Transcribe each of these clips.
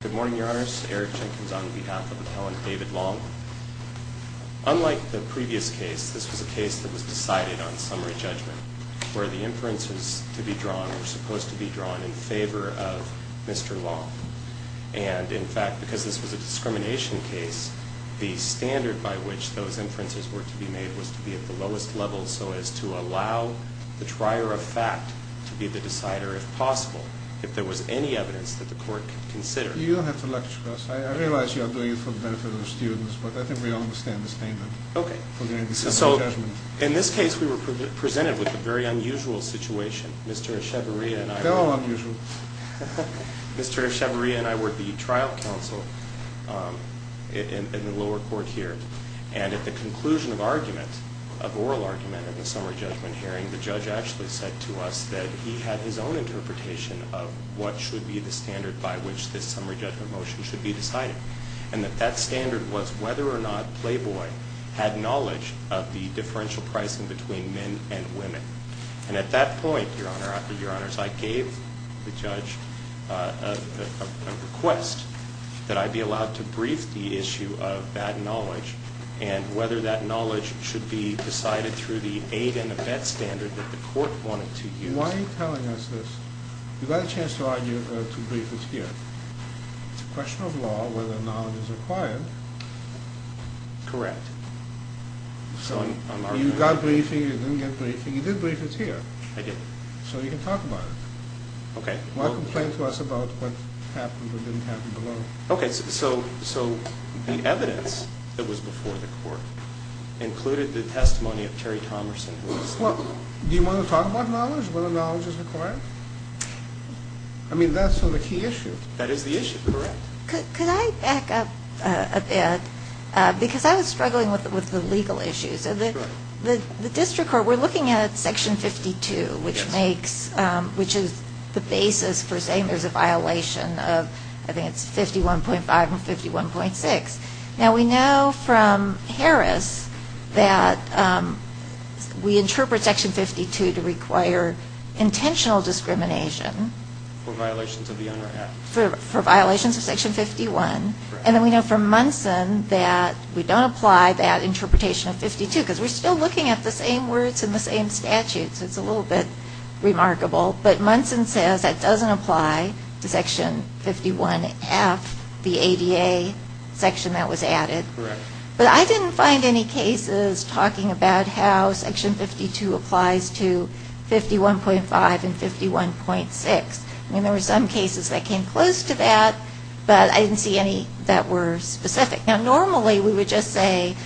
Good morning, Your Honors. Eric Jenkins on behalf of Appellant David Long. Unlike the previous case, this was a case that was decided on summary judgment, where the inferences to be drawn were supposed to be drawn in favor of Mr. Long. And, in fact, because this was a discrimination case, the standard by which those inferences were to be made was to be at the lowest level so as to allow the trier of fact to be the decider, if possible, if there was any evidence that the court could consider. You don't have to lecture us. I realize you are doing it for the benefit of the students, but I think we all understand the standard. Okay. So, in this case, we were presented with a very unusual situation. Mr. Echevarria and I... They're all unusual. Mr. Echevarria and I were at the trial counsel in the lower court here, and at the conclusion of argument, of oral argument in the summary judgment hearing, the judge actually said to us that he had his own interpretation of what should be the standard by which this summary judgment motion should be decided, and that that standard was whether or not Playboy had knowledge of the differential pricing between men and women. And at that point, Your Honor, I gave the judge a request that I be allowed to brief the issue of that knowledge and whether that knowledge should be decided through the aid and abet standard that the court wanted to use. Why are you telling us this? You've got a chance to argue, to brief us here. It's a question of law whether knowledge is required. Correct. So, you got briefing, you didn't get briefing. You did brief us here. I did. So you can talk about it. Okay. Why complain to us about what happened or didn't happen below? Okay, so the evidence that was before the court included the testimony of Terry Thomerson. Well, do you want to talk about knowledge, whether knowledge is required? I mean, that's the key issue. That is the issue. Correct. Could I back up a bit? Because I was struggling with the legal issues. Sure. The district court, we're looking at Section 52, which is the basis for saying there's a violation of, I think it's 51.5 and 51.6. Now, we know from Harris that we interpret Section 52 to require intentional discrimination. For violations of the unwritten act. For violations of Section 51. And then we know from Munson that we don't apply that interpretation of 52 because we're still looking at the same words and the same statutes. So it's a little bit remarkable. But Munson says that doesn't apply to Section 51F, the ADA section that was added. Correct. But I didn't find any cases talking about how Section 52 applies to 51.5 and 51.6. I mean, there were some cases that came close to that, but I didn't see any that were specific. Now, normally we would just say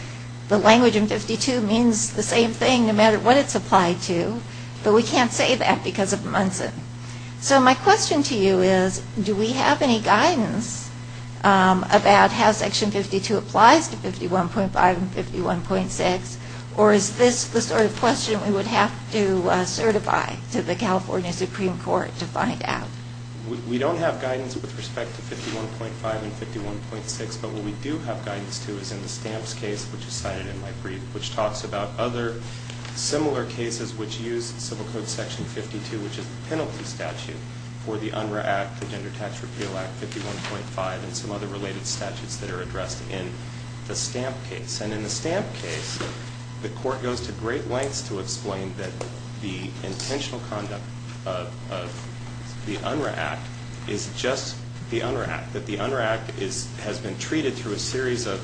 the language in 52 means the same thing no matter what it's applied to. But we can't say that because of Munson. So my question to you is, do we have any guidance about how Section 52 applies to 51.5 and 51.6? Or is this the sort of question we would have to certify to the California Supreme Court to find out? We don't have guidance with respect to 51.5 and 51.6. But what we do have guidance to is in the Stamps case, which is cited in my brief, which talks about other similar cases which use Civil Code Section 52, which is the penalty statute for the UNRRA Act, the Gender Tax Repeal Act, 51.5, and some other related statutes that are addressed in the Stamp case. And in the Stamp case, the Court goes to great lengths to explain that the intentional conduct of the UNRRA Act is just the UNRRA Act, that the UNRRA Act has been treated through a series of,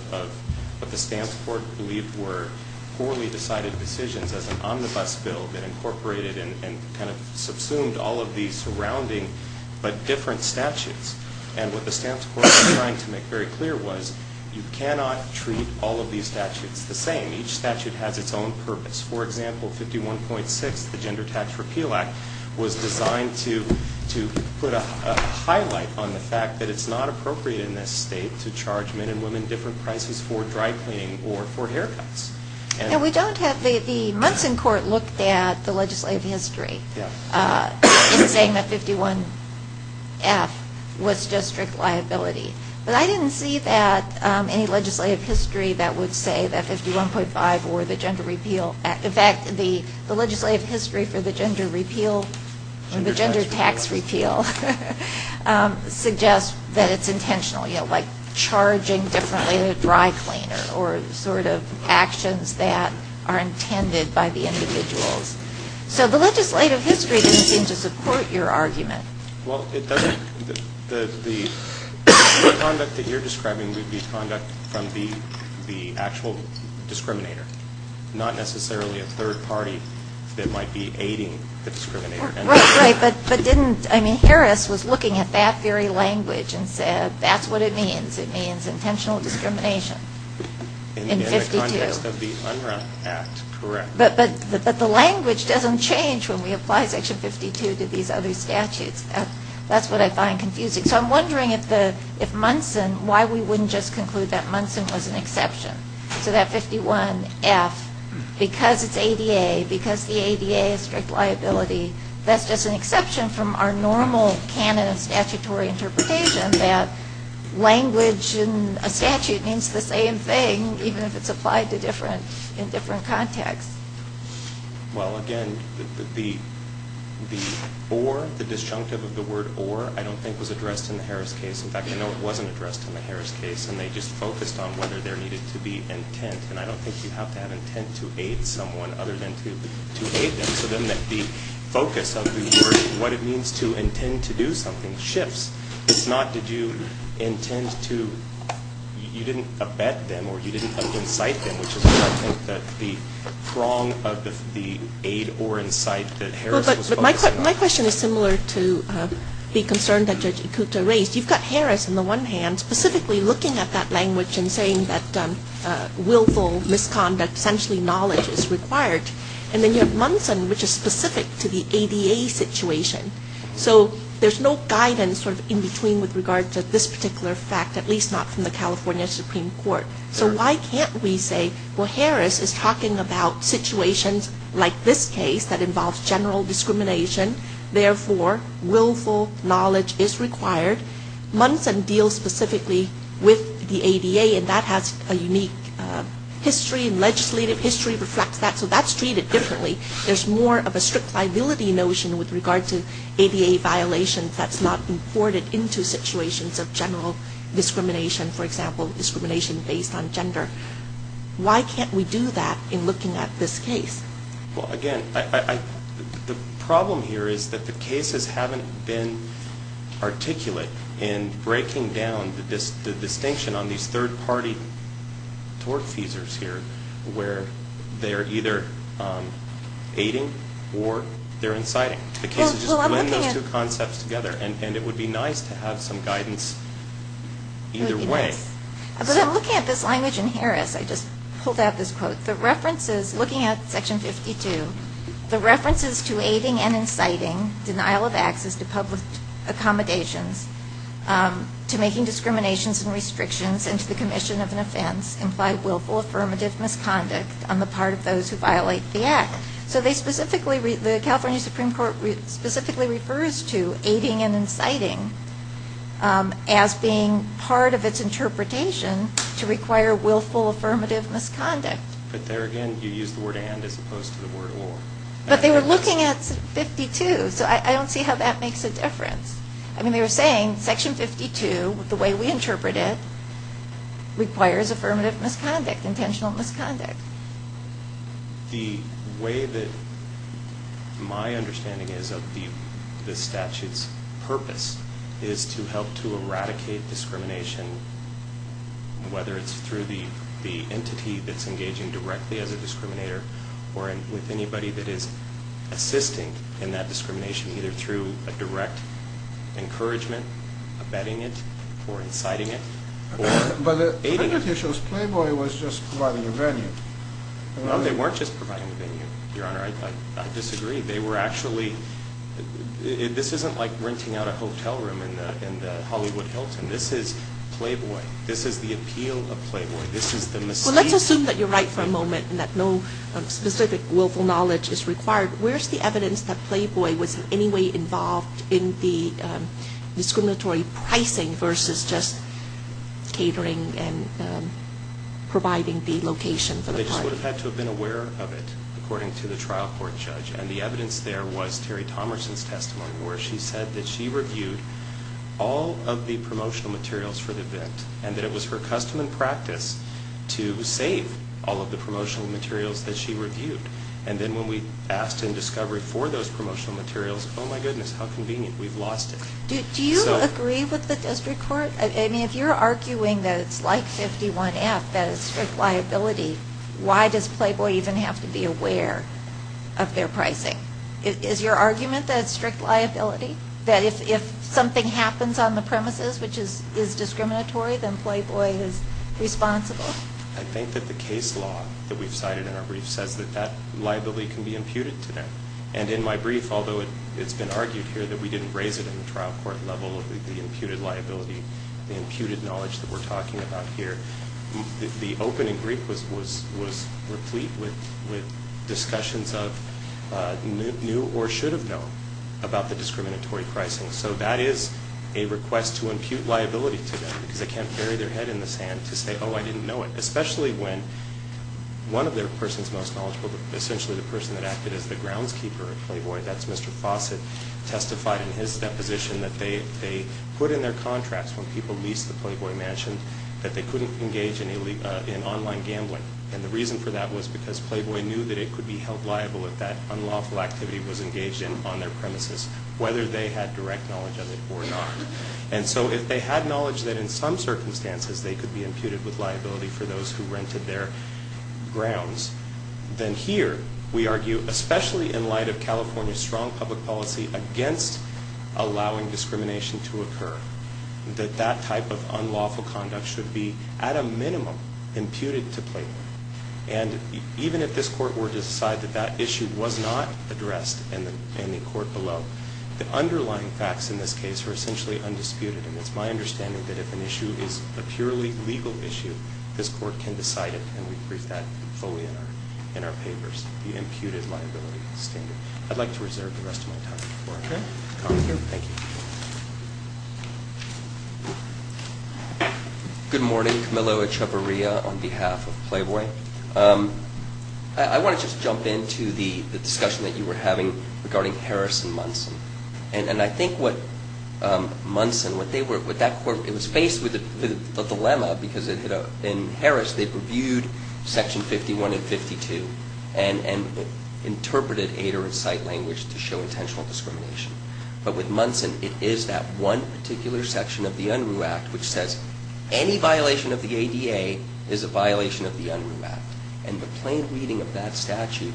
what the Stamps Court believed were poorly decided decisions as an omnibus bill that incorporated and kind of subsumed all of the surrounding but different statutes. And what the Stamps Court was trying to make very clear was you cannot treat all of these statutes the same. Each statute has its own purpose. For example, 51.6, the Gender Tax Repeal Act, was designed to put a highlight on the fact that it's not appropriate in this state to charge men and women different prices for dry cleaning or for haircuts. The Munson Court looked at the legislative history in saying that 51.F was just strict liability. But I didn't see any legislative history that would say that 51.5 or the Gender Tax Repeal Act, in fact the legislative history for the Gender Tax Repeal suggests that it's intentional, you know, like charging differently a dry cleaner or sort of actions that are intended by the individuals. So the legislative history doesn't seem to support your argument. Well, it doesn't. The conduct that you're describing would be conduct from the actual discriminator, not necessarily a third party that might be aiding the discriminator. Right. But didn't, I mean, Harris was looking at that very language and said that's what it means. It means intentional discrimination in 52. In the context of the Unruh Act, correct. But the language doesn't change when we apply Section 52 to these other statutes. That's what I find confusing. So I'm wondering if Munson, why we wouldn't just conclude that Munson was an exception, so that 51F, because it's ADA, because the ADA is strict liability, that's just an exception from our normal canon of statutory interpretation that language in a statute means the same thing, even if it's applied in different contexts. Well, again, the or, the disjunctive of the word or, I don't think was addressed in the Harris case. In fact, I know it wasn't addressed in the Harris case, and they just focused on whether there needed to be intent. And I don't think you have to have intent to aid someone other than to aid them. So then the focus of the word, what it means to intend to do something, shifts. It's not did you intend to, you didn't abet them or you didn't incite them, which is why I think that the prong of the aid or incite that Harris was focusing on. My question is similar to the concern that Judge Ikuta raised. You've got Harris on the one hand specifically looking at that language and saying that willful misconduct, essentially knowledge is required. And then you have Munson, which is specific to the ADA situation. So there's no guidance in between with regard to this particular fact, at least not from the California Supreme Court. So why can't we say, well, Harris is talking about situations like this case that involves general discrimination. Therefore, willful knowledge is required. Munson deals specifically with the ADA, and that has a unique history and legislative history reflects that. So that's treated differently. There's more of a strict liability notion with regard to ADA violations that's not imported into situations of general discrimination. For example, discrimination based on gender. Why can't we do that in looking at this case? Well, again, the problem here is that the cases haven't been articulate in breaking down the distinction on these third-party tort feasors here where they're either aiding or they're inciting. Just blend those two concepts together, and it would be nice to have some guidance either way. But I'm looking at this language in Harris. I just pulled out this quote. Looking at Section 52, the references to aiding and inciting, denial of access to public accommodations, to making discriminations and restrictions, and to the commission of an offense, imply willful affirmative misconduct on the part of those who violate the act. So the California Supreme Court specifically refers to aiding and inciting as being part of its interpretation to require willful affirmative misconduct. But there again, you used the word and as opposed to the word or. But they were looking at 52, so I don't see how that makes a difference. I mean, they were saying Section 52, the way we interpret it, requires affirmative misconduct, intentional misconduct. The way that my understanding is of the statute's purpose is to help to eradicate discrimination, whether it's through the entity that's engaging directly as a discriminator or with anybody that is assisting in that discrimination either through a direct encouragement, abetting it, or inciting it, or aiding it. The thing that he shows, Playboy was just providing a venue. No, they weren't just providing a venue, Your Honor. I disagree. They were actually, this isn't like renting out a hotel room in the Hollywood Hilton. This is Playboy. This is the appeal of Playboy. This is the mistake. Well, let's assume that you're right for a moment and that no specific willful knowledge is required. Where's the evidence that Playboy was in any way involved in the discriminatory pricing versus just catering and providing the location for the party? They just would have had to have been aware of it, according to the trial court judge. And the evidence there was Terry Tomerson's testimony, where she said that she reviewed all of the promotional materials for the event and that it was her custom and practice to save all of the promotional materials that she reviewed. And then when we asked in discovery for those promotional materials, oh, my goodness, how convenient. We've lost it. Do you agree with the district court? I mean, if you're arguing that it's like 51F, that it's strict liability, why does Playboy even have to be aware of their pricing? Is your argument that it's strict liability, that if something happens on the premises which is discriminatory, then Playboy is responsible? I think that the case law that we've cited in our brief says that that liability can be imputed to them. And in my brief, although it's been argued here that we didn't raise it in the trial court level, the imputed liability, the imputed knowledge that we're talking about here, the opening brief was replete with discussions of new or should have known about the discriminatory pricing. So that is a request to impute liability to them because they can't bury their head in the sand to say, oh, I didn't know it. Especially when one of their persons most knowledgeable, essentially the person that acted as the groundskeeper at Playboy, that's Mr. Fawcett, testified in his deposition that they put in their contracts when people leased the Playboy Mansion that they couldn't engage in online gambling. And the reason for that was because Playboy knew that it could be held liable if that unlawful activity was engaged in on their premises, whether they had direct knowledge of it or not. And so if they had knowledge that in some circumstances they could be imputed with liability for those who rented their grounds, then here we argue, especially in light of California's strong public policy against allowing discrimination to occur, that that type of unlawful conduct should be at a minimum imputed to Playboy. And even if this court were to decide that that issue was not addressed in the court below, the underlying facts in this case are essentially undisputed. And it's my understanding that if an issue is a purely legal issue, this court can decide it, and we've briefed that fully in our papers, the imputed liability standard. I'd like to reserve the rest of my time for comment here. Thank you. Good morning. Camillo Echavarria on behalf of Playboy. I want to just jump into the discussion that you were having regarding Harris and Munson. And I think what Munson, what they were, what that court, it was faced with a dilemma because in Harris they previewed Section 51 and 52 and interpreted aid or incite language to show intentional discrimination. But with Munson, it is that one particular section of the Unruh Act which says any violation of the ADA is a violation of the Unruh Act. And the plain reading of that statute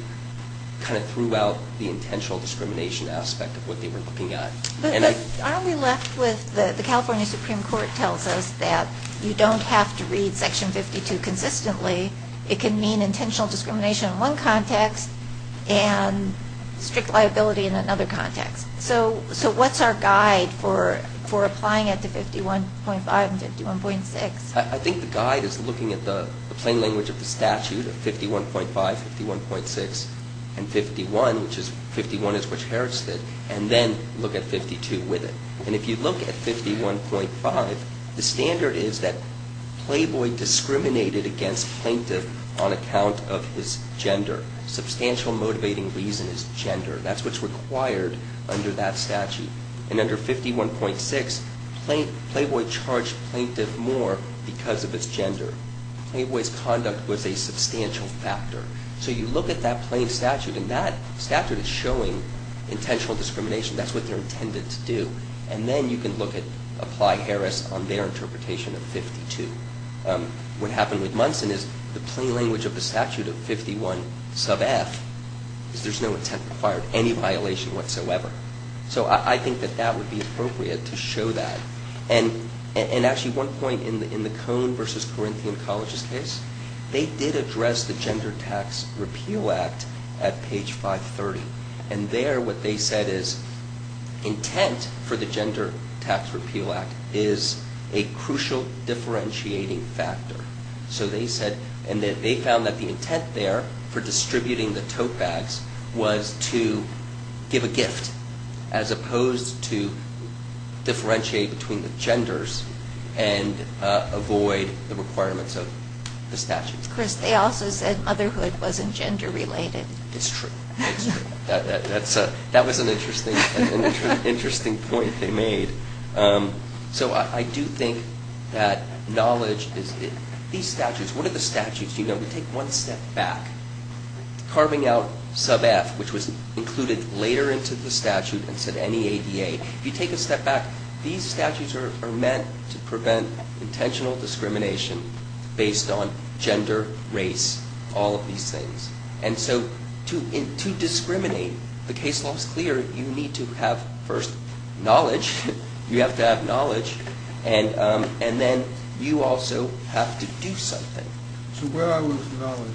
kind of threw out the intentional discrimination aspect of what they were looking at. But aren't we left with the California Supreme Court tells us that you don't have to read Section 52 consistently. It can mean intentional discrimination in one context and strict liability in another context. So what's our guide for applying it to 51.5 and 51.6? I think the guide is looking at the plain language of the statute of 51.5, 51.6, and 51, which is 51 is what Harris did, and then look at 52 with it. And if you look at 51.5, the standard is that Playboy discriminated against plaintiff on account of his gender. Substantial motivating reason is gender. That's what's required under that statute. And under 51.6, Playboy charged plaintiff more because of his gender. Playboy's conduct was a substantial factor. So you look at that plain statute and that statute is showing intentional discrimination. That's what they're intended to do. And then you can look at Apply Harris on their interpretation of 52. What happened with Munson is the plain language of the statute of 51.5 is there's no intent to require any violation whatsoever. So I think that that would be appropriate to show that. And actually one point in the Cone versus Corinthian College's case, they did address the Gender Tax Repeal Act at page 530. And there what they said is intent for the Gender Tax Repeal Act is a crucial differentiating factor. So they said and they found that the intent there for distributing the tote bags was to give a gift as opposed to differentiate between the genders and avoid the requirements of the statute. Chris, they also said motherhood wasn't gender related. It's true. It's true. That was an interesting point they made. So I do think that knowledge is these statutes. What are the statutes? You know, we take one step back. Carving out sub F, which was included later into the statute and said NEADA. If you take a step back, these statutes are meant to prevent intentional discrimination based on gender, race, all of these things. And so to discriminate, the case law is clear. You need to have first knowledge. You have to have knowledge. And then you also have to do something. So where are we with knowledge?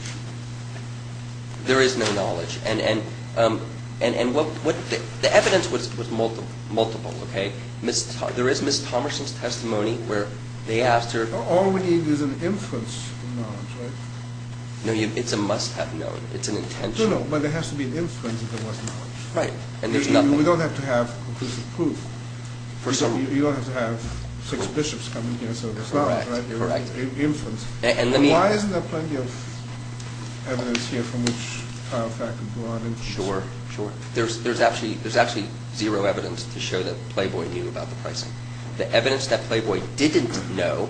There is no knowledge. And the evidence was multiple. There is Ms. Thomerson's testimony where they asked her. All we need is an inference of knowledge, right? No, it's a must have known. It's an intention. No, no, but there has to be an inference if there was knowledge. Right. And there's nothing. We don't have to have conclusive proof. You don't have to have six bishops come in here. Correct. Inference. Why isn't there plenty of evidence here from which Tyler Fack can draw an inference? Sure, sure. There's actually zero evidence to show that Playboy knew about the pricing. The evidence that Playboy didn't know,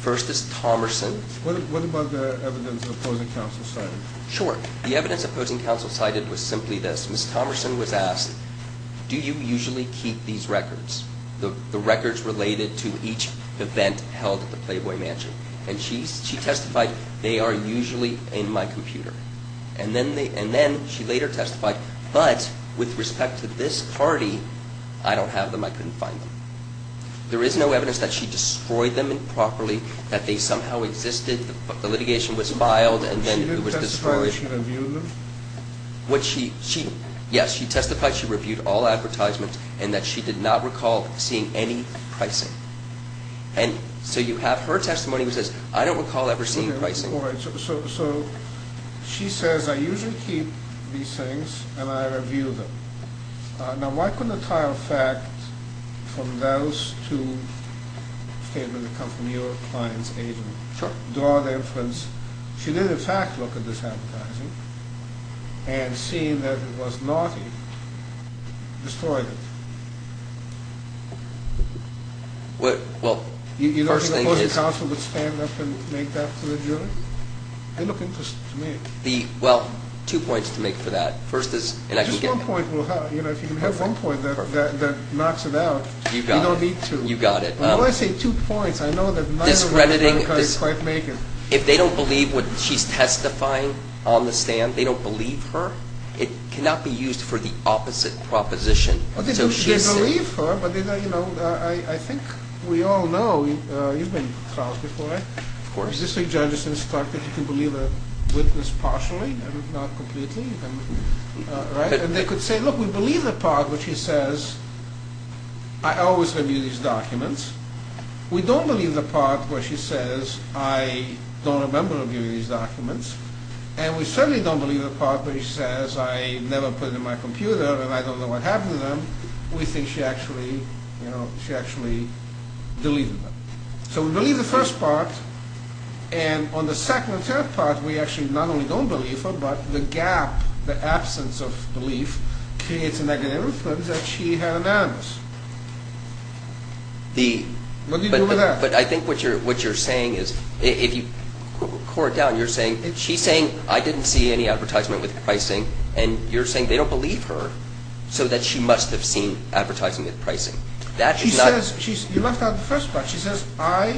first is Thomerson. What about the evidence opposing counsel cited? Sure. The evidence opposing counsel cited was simply this. Ms. Thomerson was asked, do you usually keep these records, the records related to each event held at the Playboy Mansion? And she testified, they are usually in my computer. And then she later testified, but with respect to this party, I don't have them. I couldn't find them. There is no evidence that she destroyed them improperly, that they somehow existed. The litigation was filed and then it was destroyed. Did she testify that she reviewed them? Yes, she testified she reviewed all advertisements and that she did not recall seeing any pricing. And so you have her testimony that says, I don't recall ever seeing pricing. So she says, I usually keep these things and I review them. Now, why couldn't a tile fact from those two statements that come from your client's agent draw the inference, she did in fact look at this advertising and seeing that it was naughty, destroyed it? Well, first thing is... You don't think the opposing counsel would stand up and make that to the jury? They look interesting to me. Well, two points to make for that. Just one point, if you can have one point that knocks it out, you don't need two. You got it. When I say two points, I know that neither of them is quite making. If they don't believe what she's testifying on the stand, they don't believe her, it cannot be used for the opposite proposition. They believe her, but I think we all know, you've been in trials before. Of course. Existing judges instruct that you can believe a witness partially, not completely. And they could say, look, we believe the part where she says, I always review these documents. We don't believe the part where she says, I don't remember reviewing these documents. And we certainly don't believe the part where she says, I never put it in my computer and I don't know what happened to them. We think she actually deleted them. So we believe the first part. And on the second and third part, we actually not only don't believe her, but the gap, the absence of belief, creates a negative influence that she had an animus. What do you do with that? But I think what you're saying is, if you core it down, you're saying, she's saying, I didn't see any advertisement with pricing. And you're saying they don't believe her, so that she must have seen advertising with pricing. You left out the first part. She says, I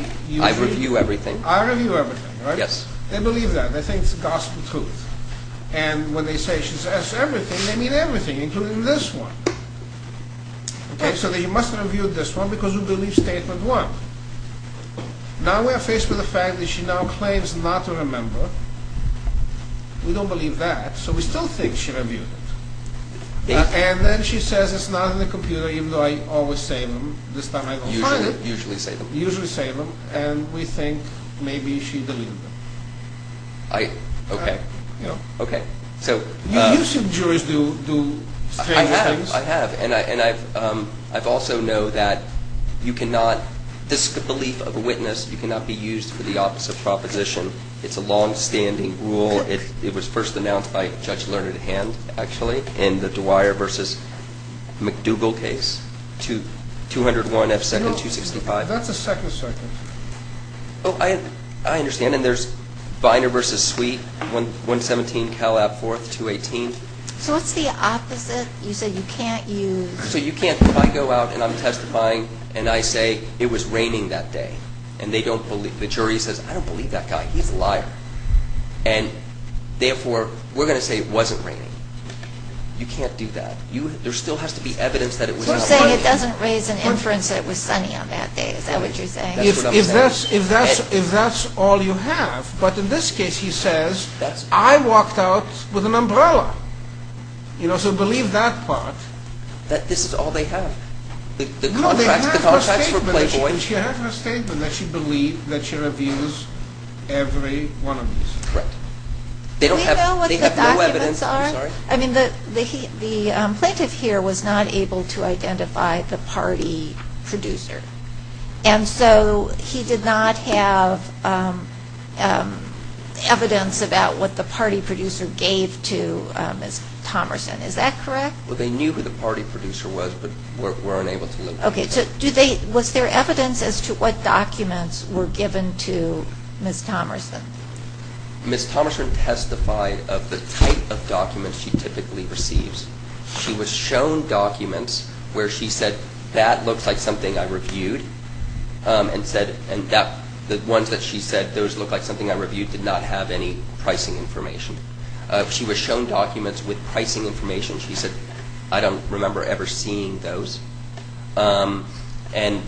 review everything. I review everything, right? Yes. They believe that. They think it's gospel truth. And when they say she says everything, they mean everything, including this one. So they must have reviewed this one because we believe statement one. Now we are faced with the fact that she now claims not to remember. We don't believe that, so we still think she reviewed it. And then she says it's not in the computer, even though I always say them. This time I don't find it. You usually say them. Usually say them. And we think maybe she deleted them. Okay. Okay. You've seen jurors do strange things. I have. And I also know that you cannot, this belief of a witness, you cannot be used for the opposite proposition. It's a longstanding rule. It was first announced by Judge Learned Hand, actually, in the Dwyer v. McDougall case, 201 F. 2nd, 265. That's a second sentence. Oh, I understand. And there's Binder v. Sweet, 117 Calab 4th, 218. So what's the opposite? You said you can't use. So you can't. If I go out and I'm testifying and I say it was raining that day and they don't believe, the jury says, I don't believe that guy. He's a liar. And therefore, we're going to say it wasn't raining. You can't do that. There still has to be evidence that it was sunny. So you're saying it doesn't raise an inference that it was sunny on that day. Is that what you're saying? If that's all you have. But in this case, he says, I walked out with an umbrella. You know, so believe that part. That this is all they have. No, they have her statement. And that she believes that she reviews every one of these. Correct. Do we know what the documents are? I'm sorry? I mean, the plaintiff here was not able to identify the party producer. And so he did not have evidence about what the party producer gave to Ms. Thomerson. Is that correct? Well, they knew who the party producer was but weren't able to look. Okay, so was there evidence as to what documents were given to Ms. Thomerson? Ms. Thomerson testified of the type of documents she typically receives. She was shown documents where she said, that looks like something I reviewed. And the ones that she said, those look like something I reviewed did not have any pricing information. She was shown documents with pricing information. She said, I don't remember ever seeing those. And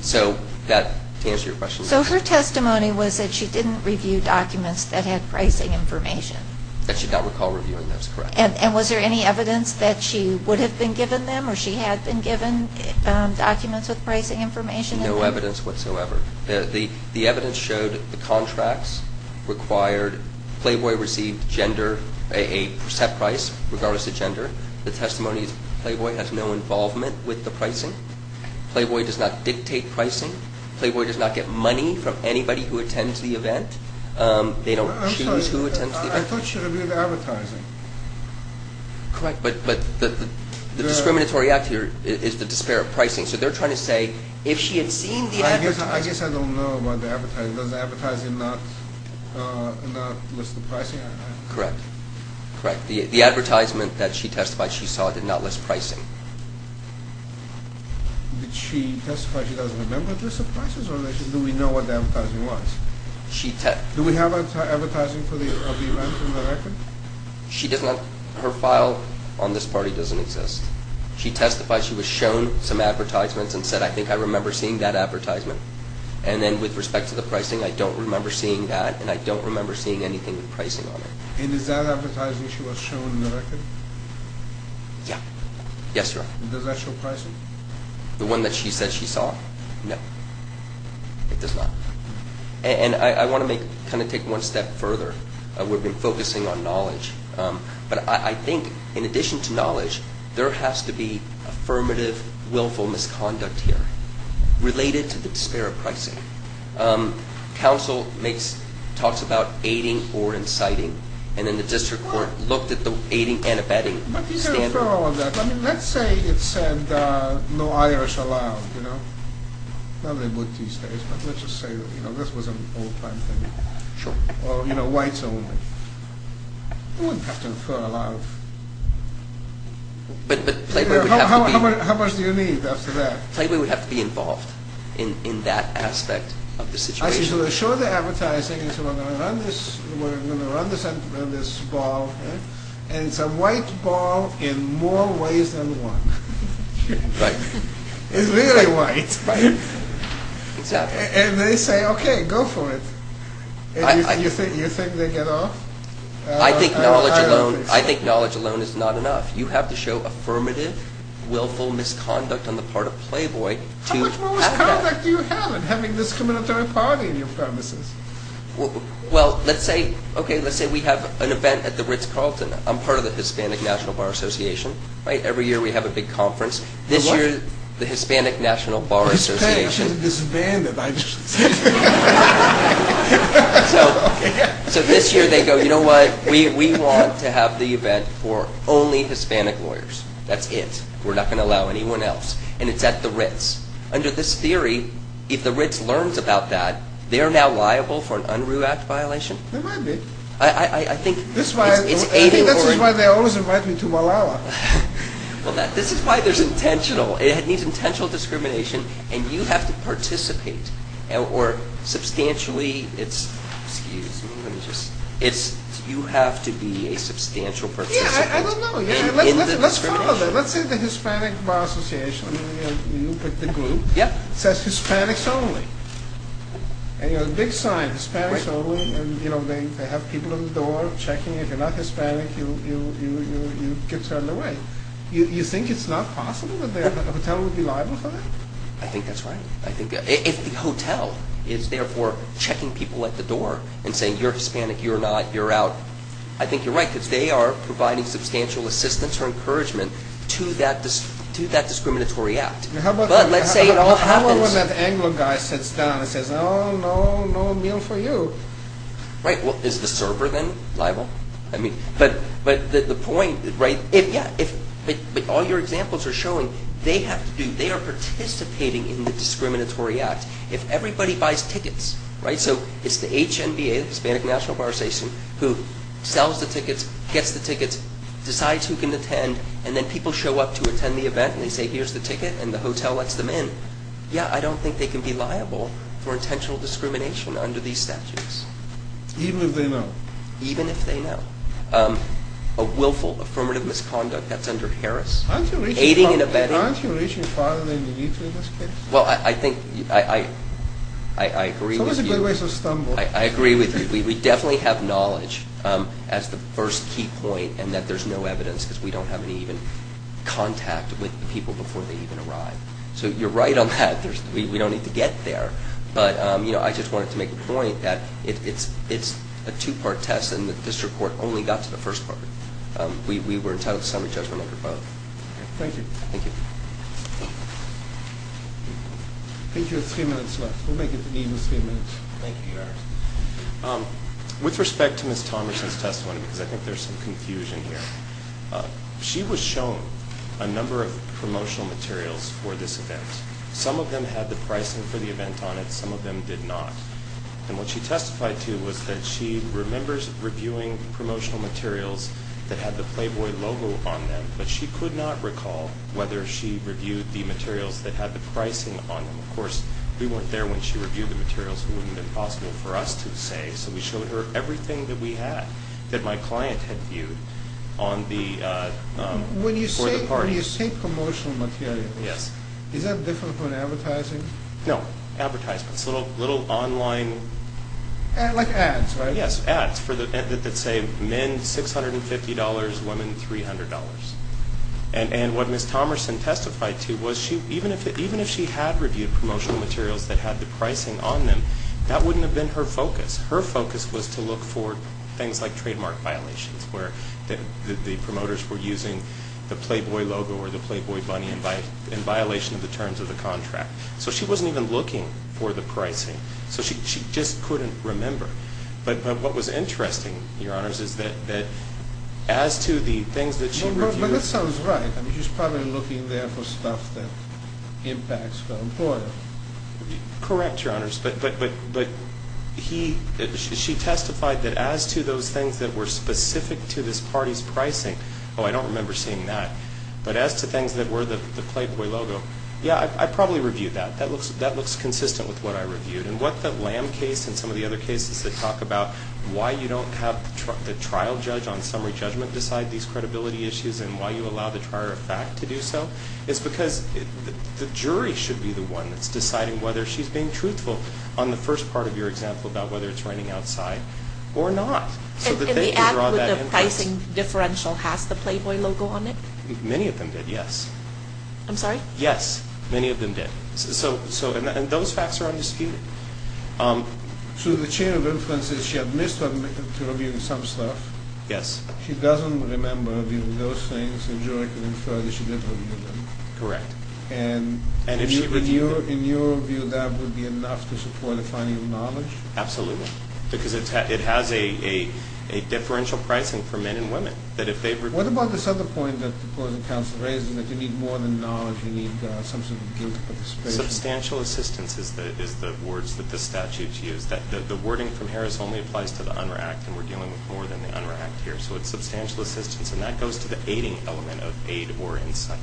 so, to answer your question. So her testimony was that she didn't review documents that had pricing information? That she did not recall reviewing those, correct. And was there any evidence that she would have been given them or she had been given documents with pricing information in them? No evidence whatsoever. The evidence showed the contracts required, Playboy received gender, a set price regardless of gender. The testimony is Playboy has no involvement with the pricing. Playboy does not dictate pricing. Playboy does not get money from anybody who attends the event. They don't choose who attends the event. I thought she reviewed the advertising. Correct, but the discriminatory act here is the despair of pricing. So they're trying to say, if she had seen the advertising. I guess I don't know about the advertising. Does the advertising not list the pricing? Correct. The advertisement that she testified she saw did not list pricing. Did she testify she doesn't remember the list of prices? Or do we know what the advertising was? Do we have advertising for the event in the record? Her file on this party doesn't exist. She testified she was shown some advertisements and said, I think I remember seeing that advertisement. And then with respect to the pricing, I don't remember seeing that. And I don't remember seeing anything with pricing on it. And is that advertising she was shown in the record? Yeah. Yes, Your Honor. Does that show pricing? The one that she said she saw? No. It does not. And I want to kind of take one step further. We've been focusing on knowledge. But I think in addition to knowledge, there has to be affirmative, willful misconduct here related to the despair of pricing. Counsel talks about aiding or inciting. And then the district court looked at the aiding and abetting standard. But you can infer all of that. I mean, let's say it said no Irish allowed, you know. Well, they would these days. But let's just say, you know, this was an old-time thing. Sure. Or, you know, whites only. You wouldn't have to infer a lot of... But Playboy would have to be... How much do you need after that? Playboy would have to be involved in that aspect of the situation. So they show the advertising and say we're going to run this ball. And it's a white ball in more ways than one. Right. It's really white. Right. Exactly. And they say, okay, go for it. And you think they get off? I think knowledge alone is not enough. You have to show affirmative, willful misconduct on the part of Playboy to have that. How much misconduct do you have in having this discriminatory party in your premises? Well, let's say, okay, let's say we have an event at the Ritz-Carlton. I'm part of the Hispanic National Bar Association. Every year we have a big conference. This year the Hispanic National Bar Association... Hispanic is disbanded. So this year they go, you know what, we want to have the event for only Hispanic lawyers. That's it. We're not going to allow anyone else. And it's at the Ritz. Under this theory, if the Ritz learns about that, they're now liable for an Unruh Act violation? They might be. I think it's aiding or... I think that's why they always invite me to Malala. Well, this is why there's intentional. It needs intentional discrimination. And you have to participate. Or substantially, it's... Excuse me. You have to be a substantial participant. Yeah, I don't know. Let's follow that. Let's say the Hispanic Bar Association, you pick the group. It says Hispanics only. And you know, the big sign, Hispanics only. And they have people at the door checking if you're not Hispanic, you get turned away. You think it's not possible that the hotel would be liable for that? I think that's right. If the hotel is therefore checking people at the door and saying, you're Hispanic, you're not, you're out, I think you're right because they are providing substantial assistance or encouragement to that discriminatory act. But let's say it all happens... How about when that Anglo guy sits down and says, oh, no, no meal for you? Right. Well, is the server then liable? But the point, right, if all your examples are showing, they have to do, they are participating in the discriminatory act. If everybody buys tickets, right, so it's the HNBA, the Hispanic National Bar Association, who sells the tickets, gets the tickets, decides who can attend, and then people show up to attend the event and they say, here's the ticket, and the hotel lets them in. Yeah, I don't think they can be liable for intentional discrimination under these statutes. Even if they know. Even if they know. A willful affirmative misconduct, that's under Harris. Aiding and abetting. Aren't you reaching farther than you need to in this case? Well, I think, I agree with you. So it's a good way to stumble. I agree with you. We definitely have knowledge as the first key point and that there's no evidence because we don't have any even contact with the people before they even arrive. So you're right on that. We don't need to get there. But, you know, I just wanted to make a point that it's a two-part test and this report only got to the first part. We were entitled to summary judgment under both. Thank you. Thank you. I think you have three minutes left. We'll make it even three minutes. Thank you, Your Honor. With respect to Ms. Thomerson's testimony, because I think there's some confusion here, she was shown a number of promotional materials for this event. Some of them had the pricing for the event on it. Some of them did not. And what she testified to was that she remembers reviewing promotional materials that had the Playboy logo on them, but she could not recall whether she reviewed the materials that had the pricing on them. Of course, we weren't there when she reviewed the materials. It wouldn't have been possible for us to say. So we showed her everything that we had that my client had viewed for the parties. When you say promotional materials, is that different from advertising? No, advertisement. It's a little online. Like ads, right? Yes, ads that say men $650, women $300. And what Ms. Thomerson testified to was even if she had reviewed promotional materials that had the pricing on them, that wouldn't have been her focus. Her focus was to look for things like trademark violations, where the promoters were using the Playboy logo or the Playboy bunny in violation of the terms of the contract. So she wasn't even looking for the pricing. So she just couldn't remember. But what was interesting, Your Honors, is that as to the things that she reviewed. But that sounds right. She was probably looking there for stuff that impacts the employer. Correct, Your Honors. But she testified that as to those things that were specific to this party's pricing, oh, I don't remember seeing that. But as to things that were the Playboy logo, yeah, I probably reviewed that. That looks consistent with what I reviewed. And what the Lamb case and some of the other cases that talk about why you don't have the trial judge on summary judgment decide these credibility issues and why you allow the trier of fact to do so, it's because the jury should be the one that's deciding whether she's being truthful on the first part of your example about whether it's raining outside or not. And the pricing differential has the Playboy logo on it? Many of them did, yes. I'm sorry? Yes. Many of them did. And those facts are undisputed. So the chain of inference is she admits to reviewing some stuff. Yes. She doesn't remember reviewing those things and the jury can infer that she did review them. Correct. And in your view that would be enough to support a finding of knowledge? Absolutely. Because it has a differential pricing for men and women. What about this other point that the closing counsel raised in that you need more than knowledge, you need some sort of guilt participation? Substantial assistance is the words that the statutes use. The wording from Harris only applies to the un-react and we're dealing with more than the un-react here. So it's substantial assistance, and that goes to the aiding element of aid or insight.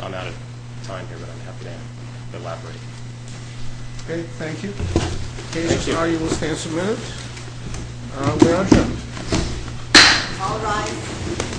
I'm out of time here, but I'm happy to elaborate. Okay, thank you. In case you are, you will stand submitted. We are adjourned. All rise.